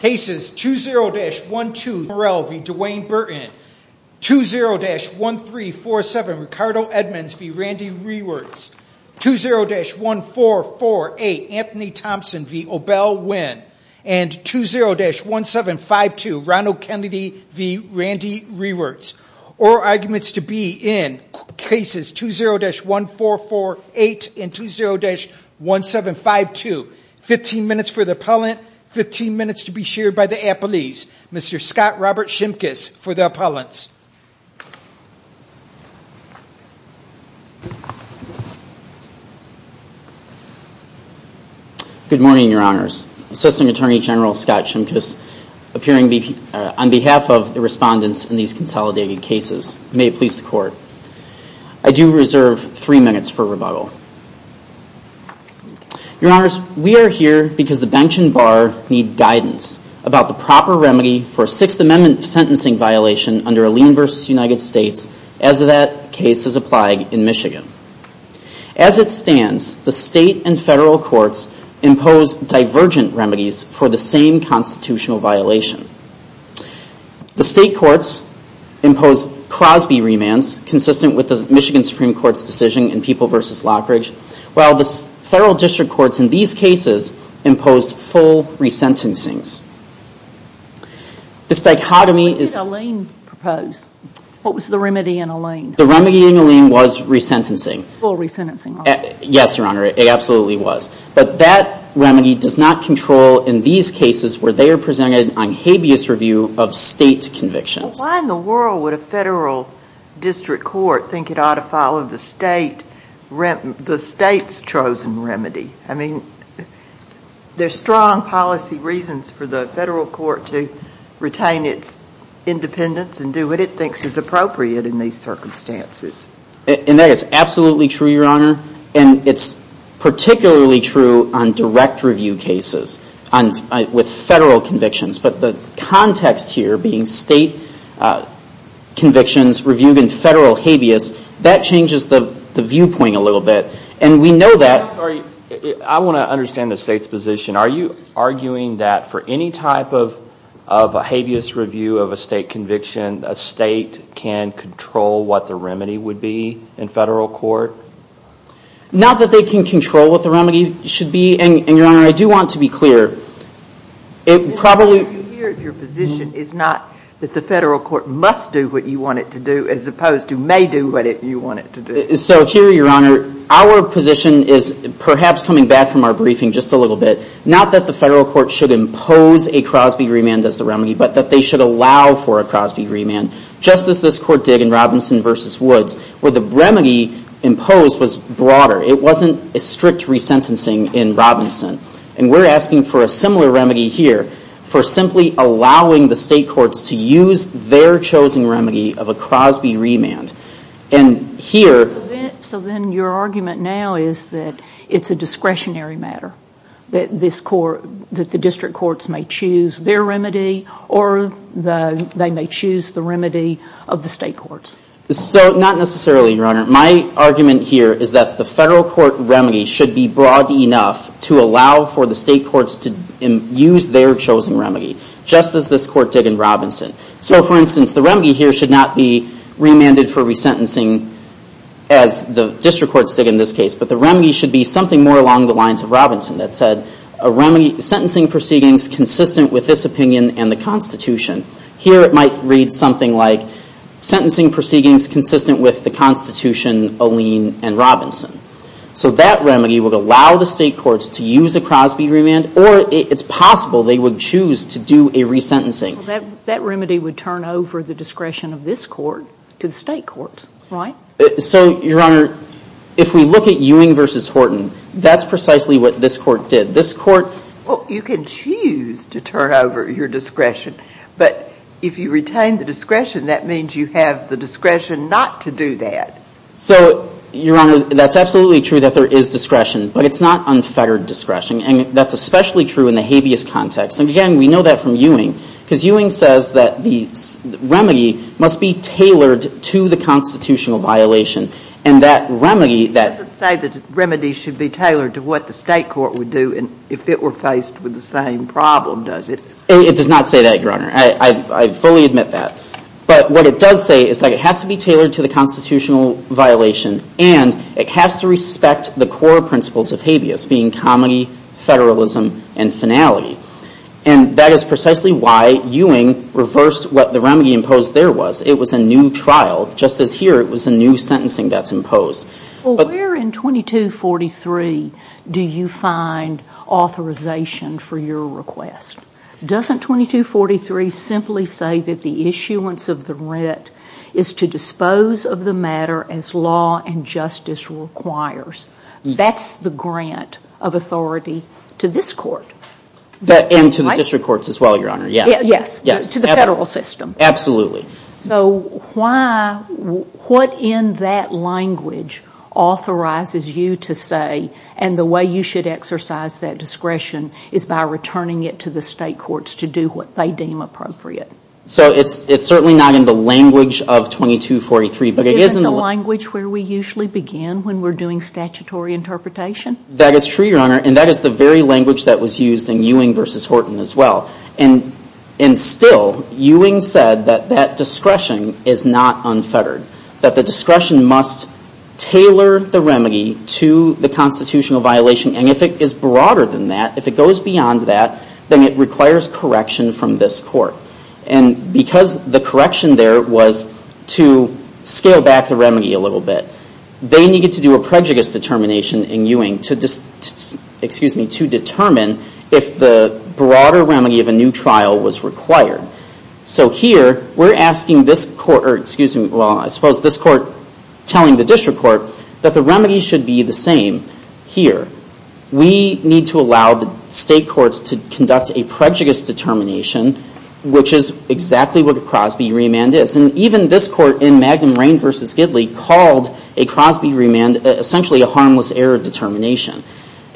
Cases 20-1248 Murrell v. Duane Burton, 20-1347 Ricardo Edmonds v. Randee Rewerts, 20-1448 Anthony Thompson v. OBell Winn, and 20-1752 Ronald Kennedy v. Randee Rewerts. Oral arguments to be in cases 20-1448 and 20-1752. 15 minutes for the appellant, 15 minutes to be shared by the appellees. Mr. Scott Robert Shimkus for the appellants. Good morning, your honors. Assistant Attorney General Scott Shimkus appearing on behalf of the respondents in these consolidated cases. May it please the court. I do reserve three minutes for rebuttal. Your honors, we are here because the bench and bar need guidance about the proper remedy for a Sixth Amendment sentencing violation under Alene v. United States as that case is applied in Michigan. As it stands, the state and federal courts impose divergent remedies for the same constitutional violation. The state courts impose Crosby remands consistent with the Michigan Supreme Court's decision in People v. Lockridge. While the federal district courts in these cases imposed full resentencings. The psychotomy is... What did Alene propose? What was the remedy in Alene? The remedy in Alene was resentencing. Full resentencing. Yes, your honor, it absolutely was. But that remedy does not control in these cases where they are presented on habeas review of state convictions. Why in the world would a federal district court think it ought to follow the state's chosen remedy? I mean, there's strong policy reasons for the federal court to retain its independence and do what it thinks is appropriate in these circumstances. And that is absolutely true, your honor. And it's particularly true on direct review cases with federal convictions. But the context here being state convictions reviewed in federal habeas, that changes the viewpoint a little bit. And we know that... I want to understand the state's position. Are you arguing that for any type of habeas review of a state conviction, a state can control what the remedy would be in federal court? Not that they can control what the remedy should be. And, your honor, I do want to be clear. It probably... Your position is not that the federal court must do what you want it to do as opposed to may do what you want it to do. So here, your honor, our position is perhaps coming back from our briefing just a little bit. Not that the federal court should impose a Crosby remand as the remedy, but that they should allow for a Crosby remand. Just as this court did in Robinson v. Woods, where the remedy imposed was broader. It wasn't a strict resentencing in Robinson. And we're asking for a similar remedy here for simply allowing the state courts to use their chosen remedy of a Crosby remand. And here... So then your argument now is that it's a discretionary matter. That the district courts may choose their remedy or they may choose the remedy of the state courts. So, not necessarily, your honor. My argument here is that the federal court remedy should be broad enough to allow for the state courts to use their chosen remedy. Just as this court did in Robinson. So, for instance, the remedy here should not be remanded for resentencing, as the district courts did in this case. But the remedy should be something more along the lines of Robinson that said, a remedy sentencing proceedings consistent with this opinion and the Constitution. Here it might read something like, sentencing proceedings consistent with the Constitution, Olene, and Robinson. So that remedy would allow the state courts to use a Crosby remand, or it's possible they would choose to do a resentencing. That remedy would turn over the discretion of this court to the state courts, right? So, your honor, if we look at Ewing v. Horton, that's precisely what this court did. This court... Well, you can choose to turn over your discretion. But if you retain the discretion, that means you have the discretion not to do that. So, your honor, that's absolutely true that there is discretion. But it's not unfettered discretion. And that's especially true in the habeas context. And, again, we know that from Ewing. Because Ewing says that the remedy must be tailored to the constitutional violation. And that remedy... It doesn't say that remedies should be tailored to what the state court would do if it were faced with the same problem, does it? It does not say that, your honor. I fully admit that. But what it does say is that it has to be tailored to the constitutional violation. And it has to respect the core principles of habeas, being comity, federalism, and finality. And that is precisely why Ewing reversed what the remedy imposed there was. It was a new trial. Just as here, it was a new sentencing that's imposed. Well, where in 2243 do you find authorization for your request? Doesn't 2243 simply say that the issuance of the writ is to dispose of the matter as law and justice requires? That's the grant of authority to this court. And to the district courts as well, your honor, yes. Yes. To the federal system. Absolutely. So why, what in that language authorizes you to say, and the way you should exercise that discretion, is by returning it to the state courts to do what they deem appropriate? So it's certainly not in the language of 2243. But it is in the language where we usually begin when we're doing statutory interpretation? That is true, your honor. And that is the very language that was used in Ewing versus Horton as well. And still, Ewing said that that discretion is not unfettered. That the discretion must tailor the remedy to the constitutional violation. And if it is broader than that, if it goes beyond that, then it requires correction from this court. And because the correction there was to scale back the remedy a little bit, they needed to do a prejudice determination in Ewing to determine if the broader remedy of a new trial was required. So here, we're asking this court, or excuse me, well, I suppose this court telling the district court that the remedy should be the same here. We need to allow the state courts to conduct a prejudice determination, which is exactly what a Crosby remand is. And even this court in Magnum Raine versus Gidley called a Crosby remand essentially a harmless error determination.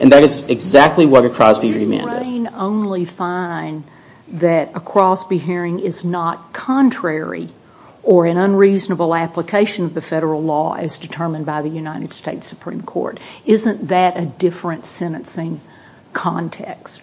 And that is exactly what a Crosby remand is. Can Raine only find that a Crosby hearing is not contrary or an unreasonable application of the federal law as determined by the United States Supreme Court? Isn't that a different sentencing context?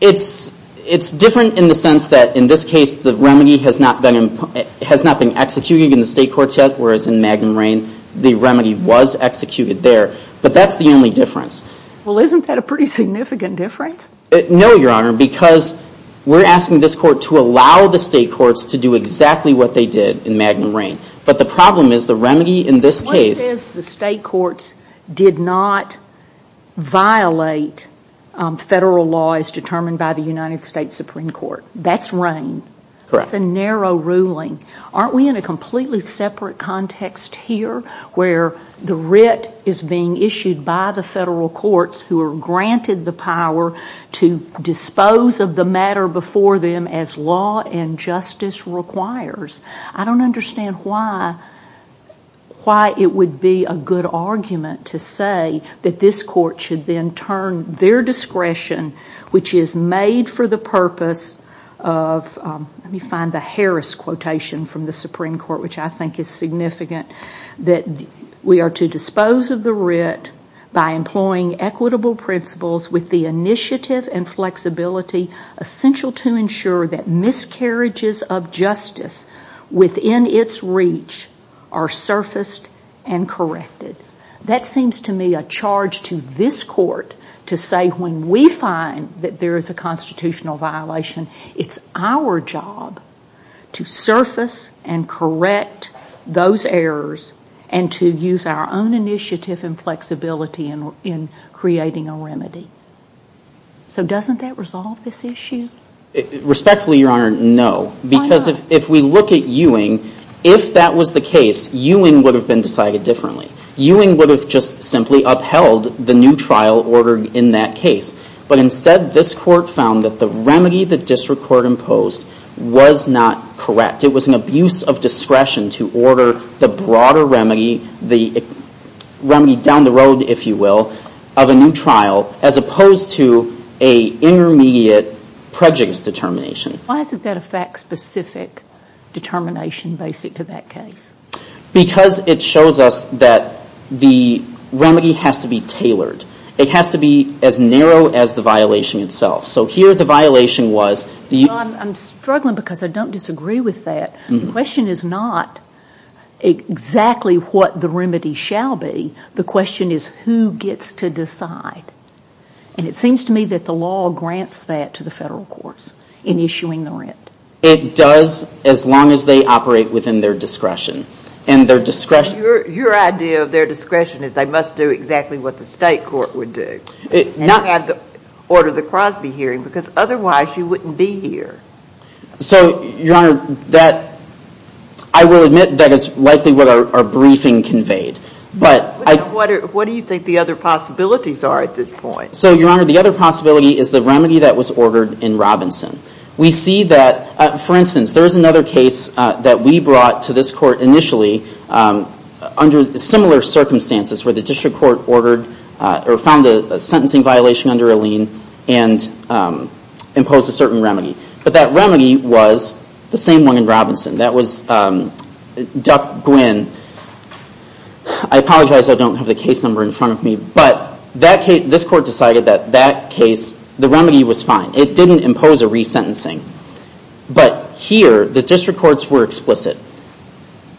It's different in the sense that in this case, the remedy has not been executed in the state courts yet, whereas in Magnum Raine, the remedy was executed there. But that's the only difference. Well, isn't that a pretty significant difference? No, Your Honor, because we're asking this court to allow the state courts to do exactly what they did in Magnum Raine. But the problem is the remedy in this case... One says the state courts did not violate federal law as determined by the United States Supreme Court. That's Raine. Correct. That's a narrow ruling. Aren't we in a completely separate context here where the writ is being issued by the federal courts who are granted the power to dispose of the matter before them as law and justice requires? I don't understand why it would be a good argument to say that this court should then turn their discretion, which is made for the purpose of... Let me find the Harris quotation from the Supreme Court, which I think is significant. That we are to dispose of the writ by employing equitable principles with the initiative and flexibility essential to ensure that miscarriages of justice within its reach are surfaced and corrected. That seems to me a charge to this court to say when we find that there is a constitutional violation, it's our job to surface and correct those errors and to use our own initiative and flexibility in creating a remedy. So doesn't that resolve this issue? Respectfully, Your Honor, no. Why not? Because if we look at Ewing, if that was the case, Ewing would have been decided differently. Ewing would have just simply upheld the new trial ordered in that case. But instead, this court found that the remedy the district court imposed was not correct. It was an abuse of discretion to order the broader remedy, the remedy down the road, if you will, of a new trial as opposed to an intermediate prejudice determination. Why is that a fact-specific determination basic to that case? Because it shows us that the remedy has to be tailored. It has to be as narrow as the violation itself. So here the violation was... I'm struggling because I don't disagree with that. The question is not exactly what the remedy shall be. The question is who gets to decide. And it seems to me that the law grants that to the federal courts in issuing the rent. It does as long as they operate within their discretion. And their discretion... Your idea of their discretion is they must do exactly what the state court would do. Not have to order the Crosby hearing because otherwise you wouldn't be here. So, Your Honor, that... I will admit that is likely what our briefing conveyed. What do you think the other possibilities are at this point? So, Your Honor, the other possibility is the remedy that was ordered in Robinson. We see that... For instance, there is another case that we brought to this court initially under similar circumstances where the district court found a sentencing violation under a lien and imposed a certain remedy. But that remedy was the same one in Robinson. That was Duck Gwynn. I apologize I don't have the case number in front of me. But this court decided that that case, the remedy was fine. It didn't impose a resentencing. But here, the district courts were explicit.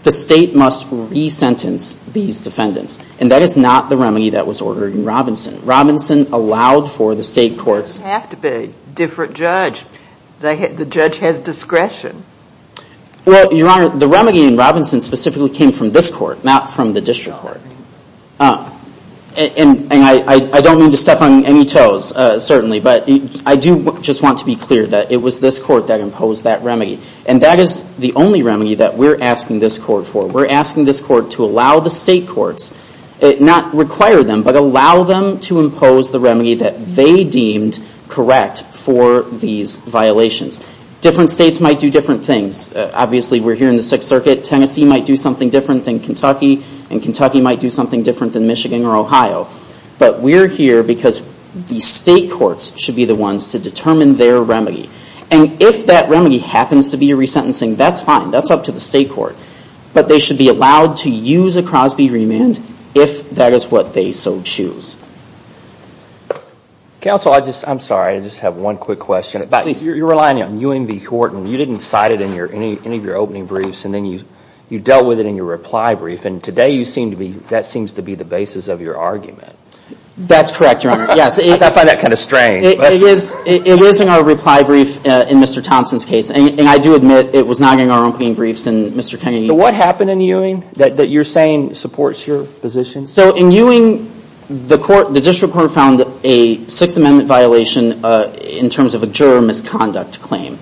The state must resentence these defendants. And that is not the remedy that was ordered in Robinson. Robinson allowed for the state courts... They have to be a different judge. The judge has discretion. Well, Your Honor, the remedy in Robinson specifically came from this court, not from the district court. And I don't mean to step on any toes, certainly. But I do just want to be clear that it was this court that imposed that remedy. And that is the only remedy that we're asking this court for. We're asking this court to allow the state courts, not require them, but allow them to impose the remedy that they deemed correct for these violations. Different states might do different things. Obviously, we're here in the Sixth Circuit. Tennessee might do something different than Kentucky. And Kentucky might do something different than Michigan or Ohio. But we're here because the state courts should be the ones to determine their remedy. And if that remedy happens to be a resentencing, that's fine. That's up to the state court. But they should be allowed to use a Crosby remand if that is what they so choose. Counsel, I'm sorry, I just have one quick question. You're relying on Ewing v. Horton. You didn't cite it in any of your opening briefs. And then you dealt with it in your reply brief. And today that seems to be the basis of your argument. That's correct, Your Honor. I find that kind of strange. It is in our reply brief in Mr. Thompson's case. And I do admit it was not in our opening briefs in Mr. Kennedy's. So what happened in Ewing that you're saying supports your position? So in Ewing, the district court found a Sixth Amendment violation in terms of a juror misconduct claim.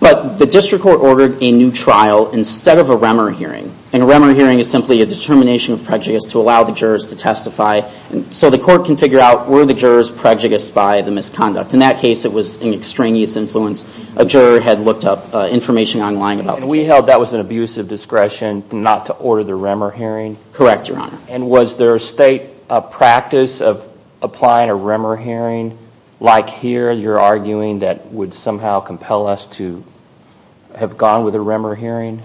But the district court ordered a new trial instead of a Remer hearing. And a Remer hearing is simply a determination of prejudice to allow the jurors to testify. So the court can figure out were the jurors prejudiced by the misconduct. In that case, it was an extraneous influence. A juror had looked up information online about the case. And we held that was an abuse of discretion not to order the Remer hearing? Correct, Your Honor. And was there a state practice of applying a Remer hearing like here you're arguing that would somehow compel us to have gone with a Remer hearing?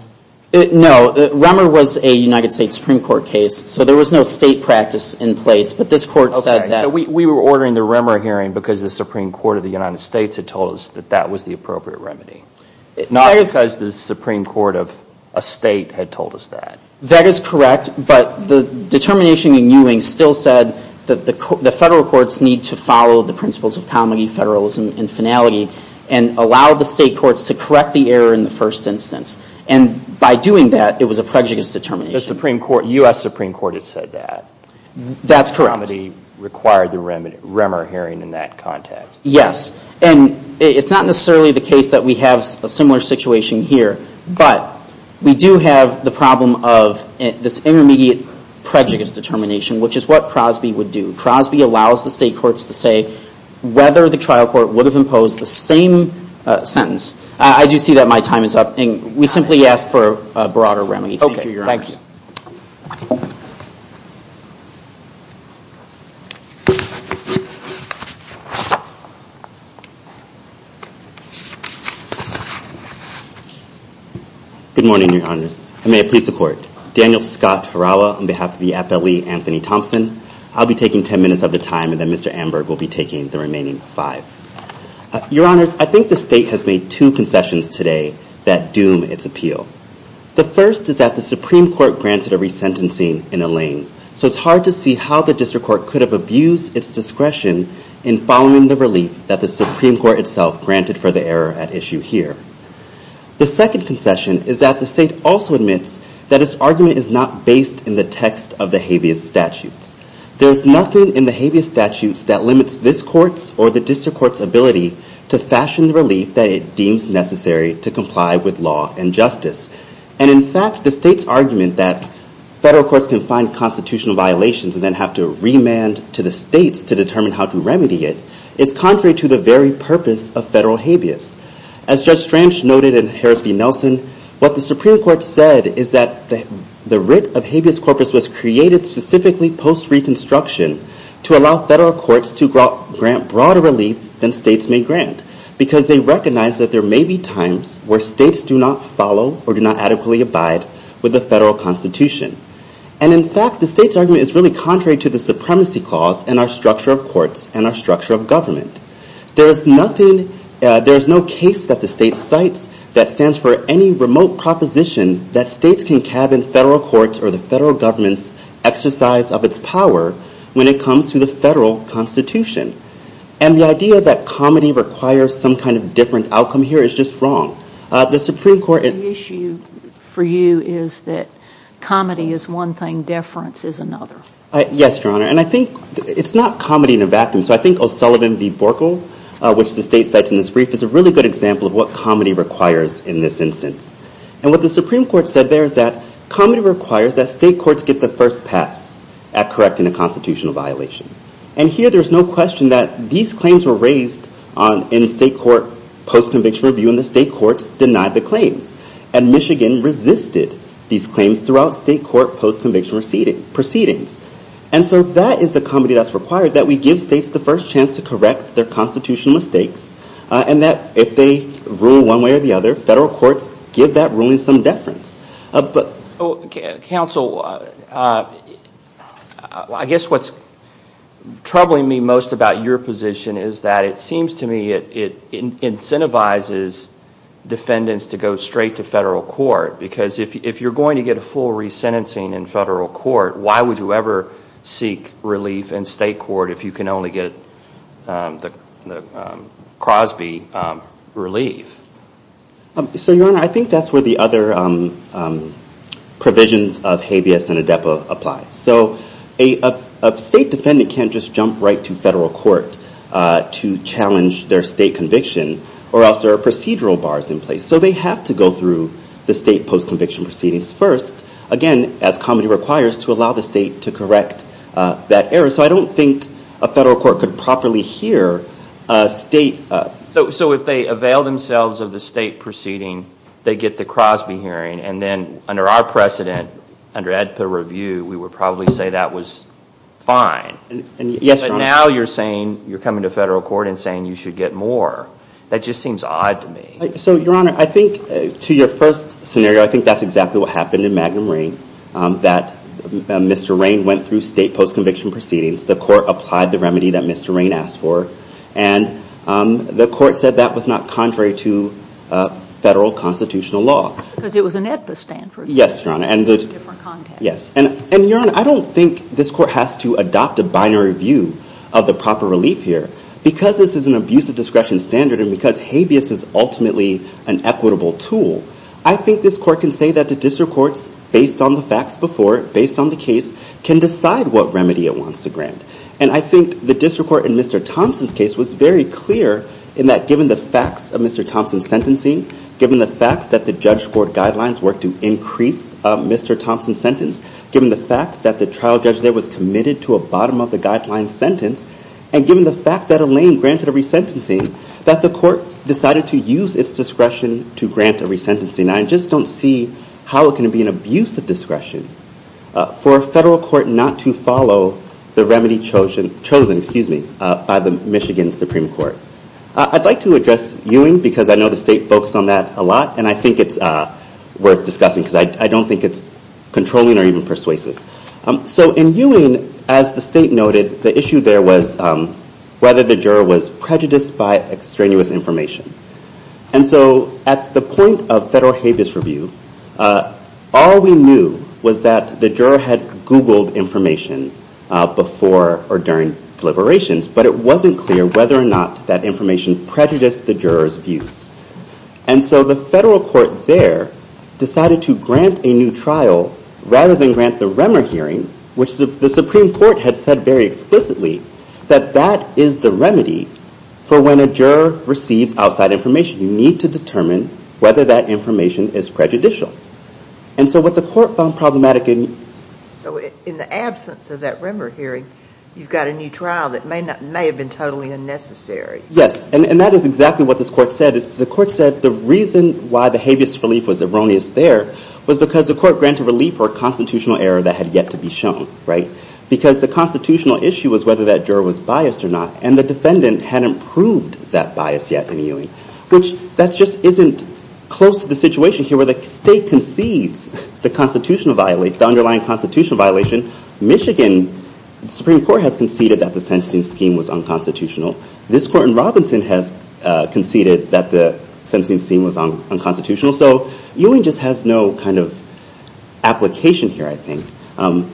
No. Remer was a United States Supreme Court case. So there was no state practice in place. But this court said that. Okay. So we were ordering the Remer hearing because the Supreme Court of the United States had told us that that was the appropriate remedy. Not because the Supreme Court of a state had told us that. That is correct. But the determination in Ewing still said that the federal courts need to follow the principles of comity, federalism, and finality, and allow the state courts to correct the error in the first instance. And by doing that, it was a prejudice determination. The Supreme Court, U.S. Supreme Court had said that. That's correct. Comity required the Remer hearing in that context. Yes. And it's not necessarily the case that we have a similar situation here. But we do have the problem of this intermediate prejudice determination, which is what Crosby would do. Crosby allows the state courts to say whether the trial court would have imposed the same sentence. I do see that my time is up. We simply ask for a broader remedy. Thank you, Your Honor. Okay. Thank you. Good morning, Your Honors. And may I please support. Daniel Scott Harawa on behalf of the FLE, Anthony Thompson. I'll be taking ten minutes of the time, and then Mr. Amberg will be taking the remaining five. Your Honors, I think the state has made two concessions today that doom its appeal. The first is that the Supreme Court granted a resentencing in Elaine. So it's hard to see how the district court could have abused its discretion in following the relief that the Supreme Court itself granted for the error at issue here. The second concession is that the state also admits that its argument is not based in the text of the habeas statutes. There is nothing in the habeas statutes that limits this court's or the district court's ability to fashion the relief that it deems necessary to comply with law and justice. And in fact, the state's argument that federal courts can find constitutional violations and then have to remand to the states to determine how to remedy it is contrary to the very purpose of federal habeas. As Judge Strange noted in Harris v. Nelson, what the Supreme Court said is that the writ of habeas corpus was created specifically post-Reconstruction to allow federal courts to grant broader relief than states may grant because they recognize that there may be times where states do not follow or do not adequately abide with the federal constitution. And in fact, the state's argument is really contrary to the supremacy clause and our structure of courts and our structure of government. There is no case that the state cites that stands for any remote proposition that states can cab in federal courts or the federal government's exercise of its power when it comes to the federal constitution. And the idea that comedy requires some kind of different outcome here is just wrong. The Supreme Court... The issue for you is that comedy is one thing, deference is another. Yes, Your Honor. And I think it's not comedy in a vacuum. So I think O'Sullivan v. Borkel, which the state cites in this brief, is a really good example of what comedy requires in this instance. And what the Supreme Court said there is that comedy requires that state courts get the first pass at correcting a constitutional violation. And here there's no question that these claims were raised in a state court post-conviction review and the state courts denied the claims. And Michigan resisted these claims throughout state court post-conviction proceedings. And so that is the comedy that's required, that we give states the first chance to correct their constitutional mistakes and that if they rule one way or the other, federal courts give that ruling some deference. Counsel, I guess what's troubling me most about your position is that it seems to me it incentivizes defendants to go straight to federal court because if you're going to get a full resentencing in federal court, why would you ever seek relief in state court if you can only get the Crosby relief? So, Your Honor, I think that's where the other provisions of habeas and adepo apply. So a state defendant can't just jump right to federal court to challenge their state conviction or else there are procedural bars in place. So they have to go through the state post-conviction proceedings first, again, as comedy requires, to allow the state to correct that error. So I don't think a federal court could properly hear a state… So if they avail themselves of the state proceeding, they get the Crosby hearing and then under our precedent, under adepo review, we would probably say that was fine. Yes, Your Honor. But now you're saying you're coming to federal court and saying you should get more. That just seems odd to me. So, Your Honor, I think to your first scenario, I think that's exactly what happened in Magnum Rain, that Mr. Rain went through state post-conviction proceedings. The court applied the remedy that Mr. Rain asked for and the court said that was not contrary to federal constitutional law. Because it was an adepo standard. Yes, Your Honor. And Your Honor, I don't think this court has to adopt a binary view of the proper relief here because this is an abusive discretion standard and because habeas is ultimately an equitable tool. I think this court can say that the district courts, based on the facts before, based on the case, can decide what remedy it wants to grant. And I think the district court in Mr. Thompson's case was very clear in that given the facts of Mr. Thompson's sentencing, given the fact that the judge court guidelines were to increase Mr. Thompson's sentence, given the fact that the trial judge there was committed to a bottom-of-the-guideline sentence, and given the fact that Elaine granted a resentencing, that the court decided to use its discretion to grant a resentencing. I just don't see how it can be an abusive discretion for a federal court not to follow the remedy chosen by the Michigan Supreme Court. I'd like to address Ewing because I know the state focused on that a lot and I think it's worth discussing because I don't think it's controlling or even persuasive. So in Ewing, as the state noted, the issue there was whether the juror was prejudiced by extraneous information. And so at the point of federal habeas review, all we knew was that the juror had Googled information before or during deliberations, but it wasn't clear whether or not that information prejudiced the juror's views. And so the federal court there decided to grant a new trial rather than grant the Remmer hearing, which the Supreme Court had said very explicitly that that is the remedy for when a juror receives outside information. You need to determine whether that information is prejudicial. And so what the court found problematic in... So in the absence of that Remmer hearing, you've got a new trial that may have been totally unnecessary. Yes, and that is exactly what this court said. The court said the reason why the habeas relief was erroneous there was because the court granted relief for a constitutional error that had yet to be shown. Because the constitutional issue was whether that juror was biased or not, and the defendant hadn't proved that bias yet in Ewing, which that just isn't close to the situation here where the state concedes the underlying constitutional violation. Michigan Supreme Court has conceded that the sentencing scheme was unconstitutional. This court in Robinson has conceded that the sentencing scheme was unconstitutional. So Ewing just has no kind of application here, I think. And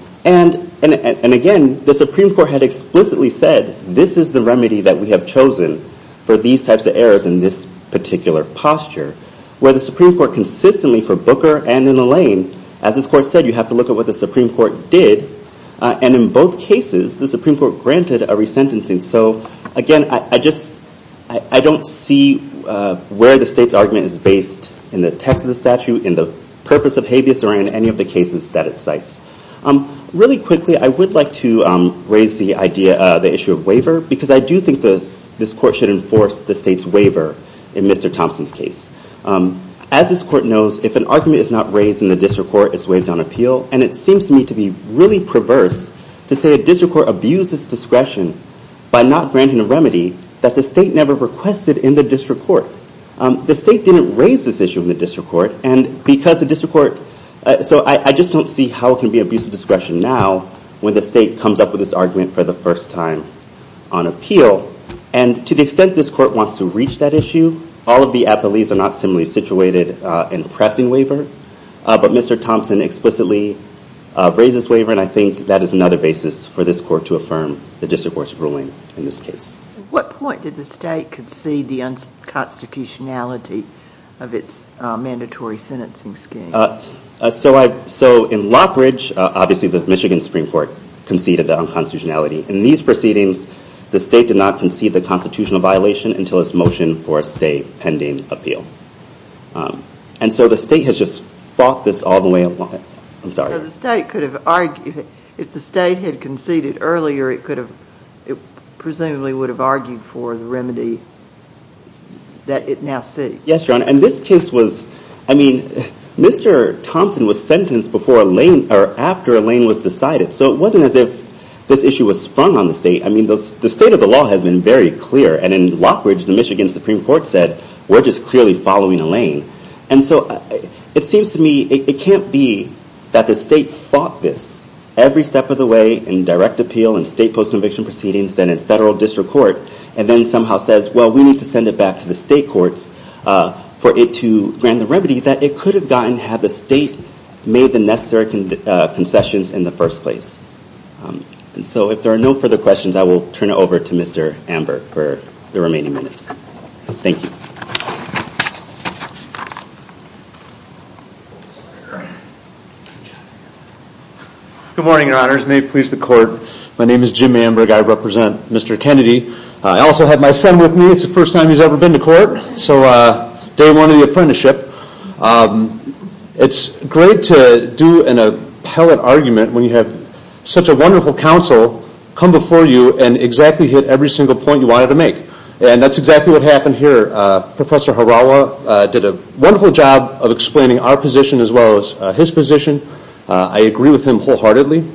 again, the Supreme Court had explicitly said, this is the remedy that we have chosen for these types of errors in this particular posture, where the Supreme Court consistently for Booker and in Alain, as this court said, you have to look at what the Supreme Court did. And in both cases, the Supreme Court granted a resentencing. So again, I don't see where the state's argument is based in the text of the statute, in the purpose of habeas, or in any of the cases that it cites. Really quickly, I would like to raise the issue of waiver, because I do think this court should enforce the state's waiver in Mr. Thompson's case. As this court knows, if an argument is not raised in the district court, it's waived on appeal, and it seems to me to be really perverse to say a district court abused its discretion by not granting a remedy that the state never requested in the district court. The state didn't raise this issue in the district court, and because the district court... So I just don't see how it can be abuse of discretion now when the state comes up with this argument for the first time on appeal. And to the extent this court wants to reach that issue, all of the appellees are not similarly situated in pressing waiver. But Mr. Thompson explicitly raised this waiver, and I think that is another basis for this court to affirm the district court's ruling in this case. At what point did the state concede the unconstitutionality of its mandatory sentencing scheme? So in Lockbridge, obviously the Michigan Supreme Court conceded the unconstitutionality. In these proceedings, the state did not concede the constitutional violation until its motion for a stay pending appeal. And so the state has just fought this all the way along. So the state could have argued... If the state had conceded earlier, it presumably would have argued for the remedy that it now seeks. Yes, Your Honor, and this case was... I mean, Mr. Thompson was sentenced after a lane was decided, so it wasn't as if this issue was sprung on the state. I mean, the state of the law has been very clear, and in Lockbridge, the Michigan Supreme Court said, we're just clearly following a lane. And so it seems to me it can't be that the state fought this every step of the way in direct appeal and state post-conviction proceedings, then in federal district court, and then somehow says, well, we need to send it back to the state courts for it to grant the remedy that it could have gotten had the state made the necessary concessions in the first place. And so if there are no further questions, I will turn it over to Mr. Amber for the remaining minutes. Thank you. Good morning, Your Honors. May it please the Court. My name is Jim Amberg. I represent Mr. Kennedy. I also have my son with me. It's the first time he's ever been to court, so day one of the apprenticeship. It's great to do an appellate argument when you have such a wonderful counsel come before you and exactly hit every single point you wanted to make, and that's exactly what happened here. Professor Harawa did a wonderful job of explaining our position as well as his position. I agree with him wholeheartedly.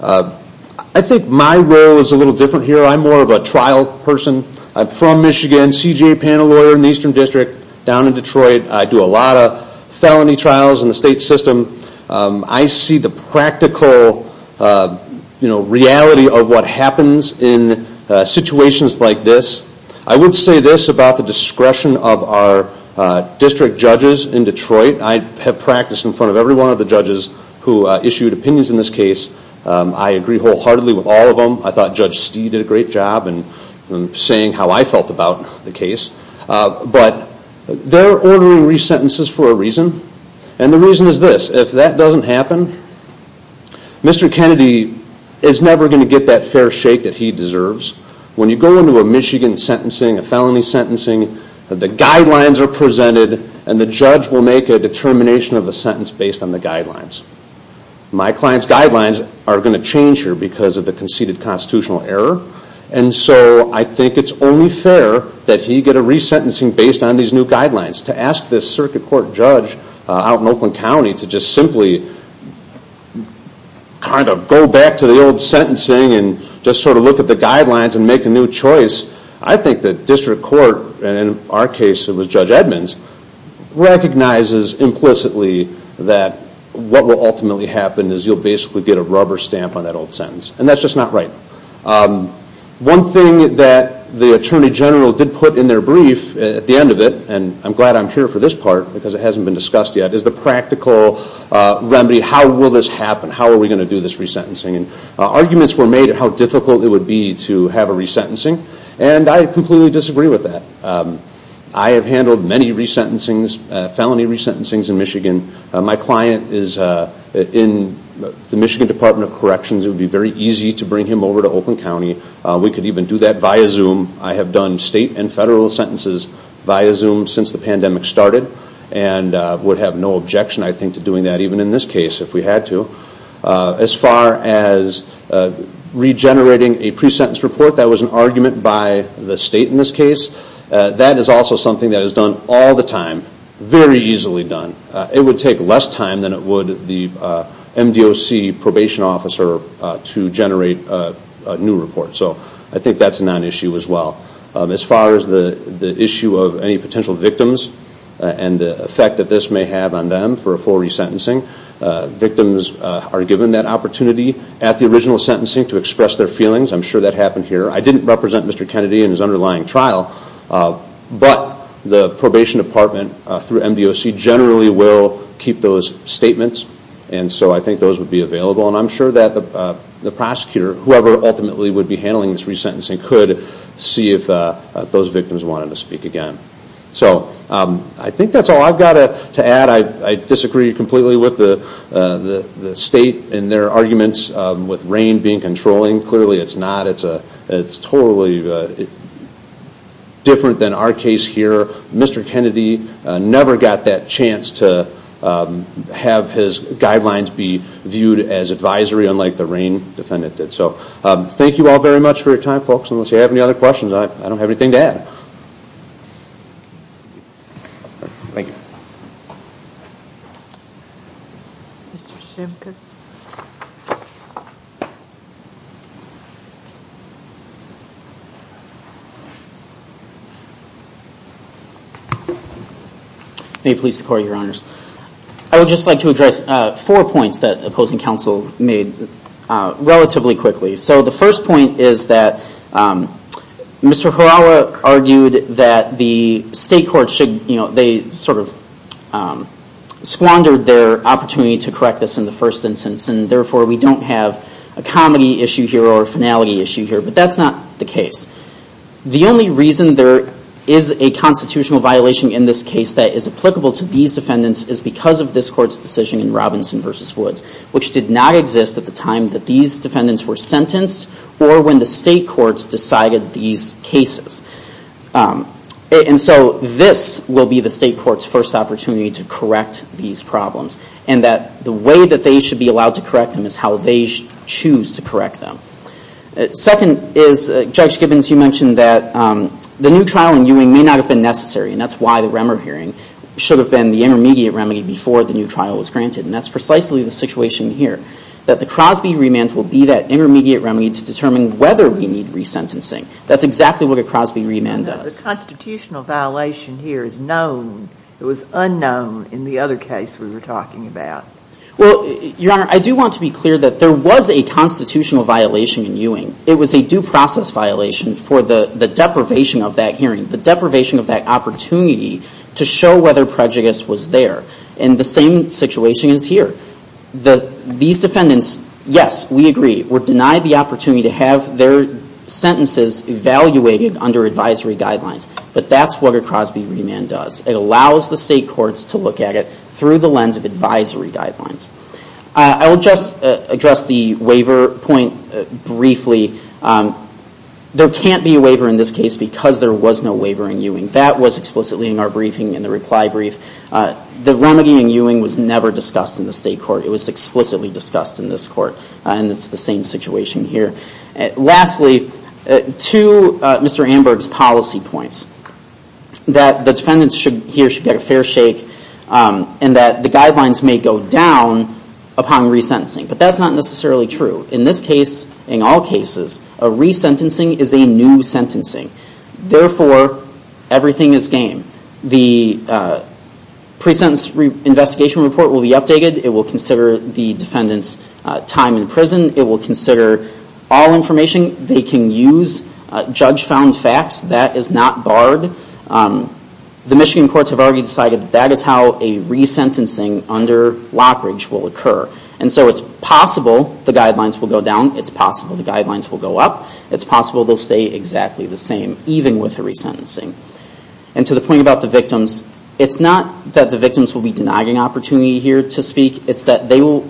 I think my role is a little different here. I'm more of a trial person. I'm from Michigan, CJA panel lawyer in the Eastern District, down in Detroit. I do a lot of felony trials in the state system. I see the practical reality of what happens in situations like this. I would say this about the discretion of our district judges in Detroit. I have practiced in front of every one of the judges who issued opinions in this case. I agree wholeheartedly with all of them. I thought Judge Stee did a great job in saying how I felt about the case. But they're ordering resentences for a reason, and the reason is this. If that doesn't happen, Mr. Kennedy is never going to get that fair shake that he deserves. When you go into a Michigan sentencing, a felony sentencing, the guidelines are presented, and the judge will make a determination of the sentence based on the guidelines. My client's guidelines are going to change here because of the conceded constitutional error, and so I think it's only fair that he get a resentencing based on these new guidelines. To ask this circuit court judge out in Oakland County to just simply kind of go back to the old sentencing and just sort of look at the guidelines and make a new choice, I think the district court, and in our case it was Judge Edmonds, recognizes implicitly that what will ultimately happen is you'll basically get a rubber stamp on that old sentence, and that's just not right. One thing that the Attorney General did put in their brief at the end of it, and I'm glad I'm here for this part because it hasn't been discussed yet, is the practical remedy. How will this happen? How are we going to do this resentencing? Arguments were made at how difficult it would be to have a resentencing, and I completely disagree with that. I have handled many resentencings, felony resentencings in Michigan. My client is in the Michigan Department of Corrections. It would be very easy to bring him over to Oakland County. We could even do that via Zoom. I have done state and federal sentences via Zoom since the pandemic started and would have no objection, I think, to doing that, even in this case if we had to. As far as regenerating a pre-sentence report, that was an argument by the state in this case. That is also something that is done all the time, very easily done. It would take less time than it would the MDOC probation officer to generate a new report, so I think that's a non-issue as well. As far as the issue of any potential victims and the effect that this may have on them for a full resentencing, victims are given that opportunity at the original sentencing to express their feelings. I'm sure that happened here. I didn't represent Mr. Kennedy in his underlying trial, but the probation department through MDOC generally will keep those statements, and so I think those would be available. I'm sure that the prosecutor, whoever ultimately would be handling this resentencing, could see if those victims wanted to speak again. I think that's all I've got to add. I disagree completely with the state in their arguments with RAIN being controlling. Clearly it's not. It's totally different than our case here. Mr. Kennedy never got that chance to have his guidelines be viewed as advisory, unlike the RAIN defendant did. Thank you all very much for your time, folks. Unless you have any other questions, I don't have anything to add. Thank you. May it please the Court, Your Honors. I would just like to address four points that opposing counsel made relatively quickly. The first point is that Mr. Horawa argued that the state courts sort of squandered their opportunity to correct this in the first instance, and therefore we don't have a comedy issue here or a finality issue here, but that's not the case. The only reason there is a constitutional violation in this case that is applicable to these defendants is because of this Court's decision in Robinson v. Woods, which did not exist at the time that these defendants were sentenced or when the state courts decided these cases. And so this will be the state court's first opportunity to correct these problems and that the way that they should be allowed to correct them is how they choose to correct them. Second is, Judge Gibbons, you mentioned that the new trial in Ewing may not have been necessary, and that's why the Remmer hearing should have been the intermediate remedy before the new trial was granted, and that's precisely the situation here, that the Crosby remand will be that intermediate remedy to determine whether we need resentencing. That's exactly what a Crosby remand does. The constitutional violation here is known. It was unknown in the other case we were talking about. Well, Your Honor, I do want to be clear that there was a constitutional violation in Ewing. It was a due process violation for the deprivation of that hearing, the deprivation of that opportunity to show whether prejudice was there. And the same situation is here. These defendants, yes, we agree, were denied the opportunity to have their sentences evaluated under advisory guidelines, but that's what a Crosby remand does. It allows the state courts to look at it through the lens of advisory guidelines. I will just address the waiver point briefly. There can't be a waiver in this case because there was no waiver in Ewing. That was explicitly in our briefing in the reply brief. The remedy in Ewing was never discussed in the state court. It was explicitly discussed in this court, and it's the same situation here. Lastly, to Mr. Amberg's policy points, that the defendants here should get a fair shake and that the guidelines may go down upon resentencing, but that's not necessarily true. In this case, in all cases, a resentencing is a new sentencing. Therefore, everything is game. The pre-sentence investigation report will be updated. It will consider the defendant's time in prison. It will consider all information. They can use judge-found facts. That is not barred. The Michigan courts have already decided that that is how a resentencing under Lockridge will occur. And so it's possible the guidelines will go down. It's possible the guidelines will go up. It's possible they'll stay exactly the same, even with a resentencing. And to the point about the victims, it's not that the victims will be denied an opportunity here to speak. It's that they will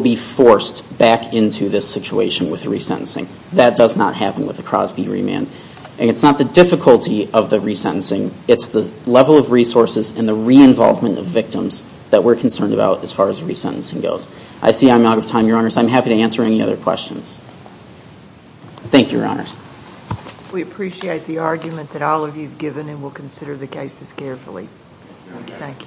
be forced back into this situation with a resentencing. That does not happen with a Crosby remand. And it's not the difficulty of the resentencing. It's the level of resources and the re-involvement of victims that we're concerned about as far as resentencing goes. I see I'm out of time, Your Honors. I'm happy to answer any other questions. Thank you, Your Honors. We appreciate the argument that all of you have given, and we'll consider the cases carefully. Thank you.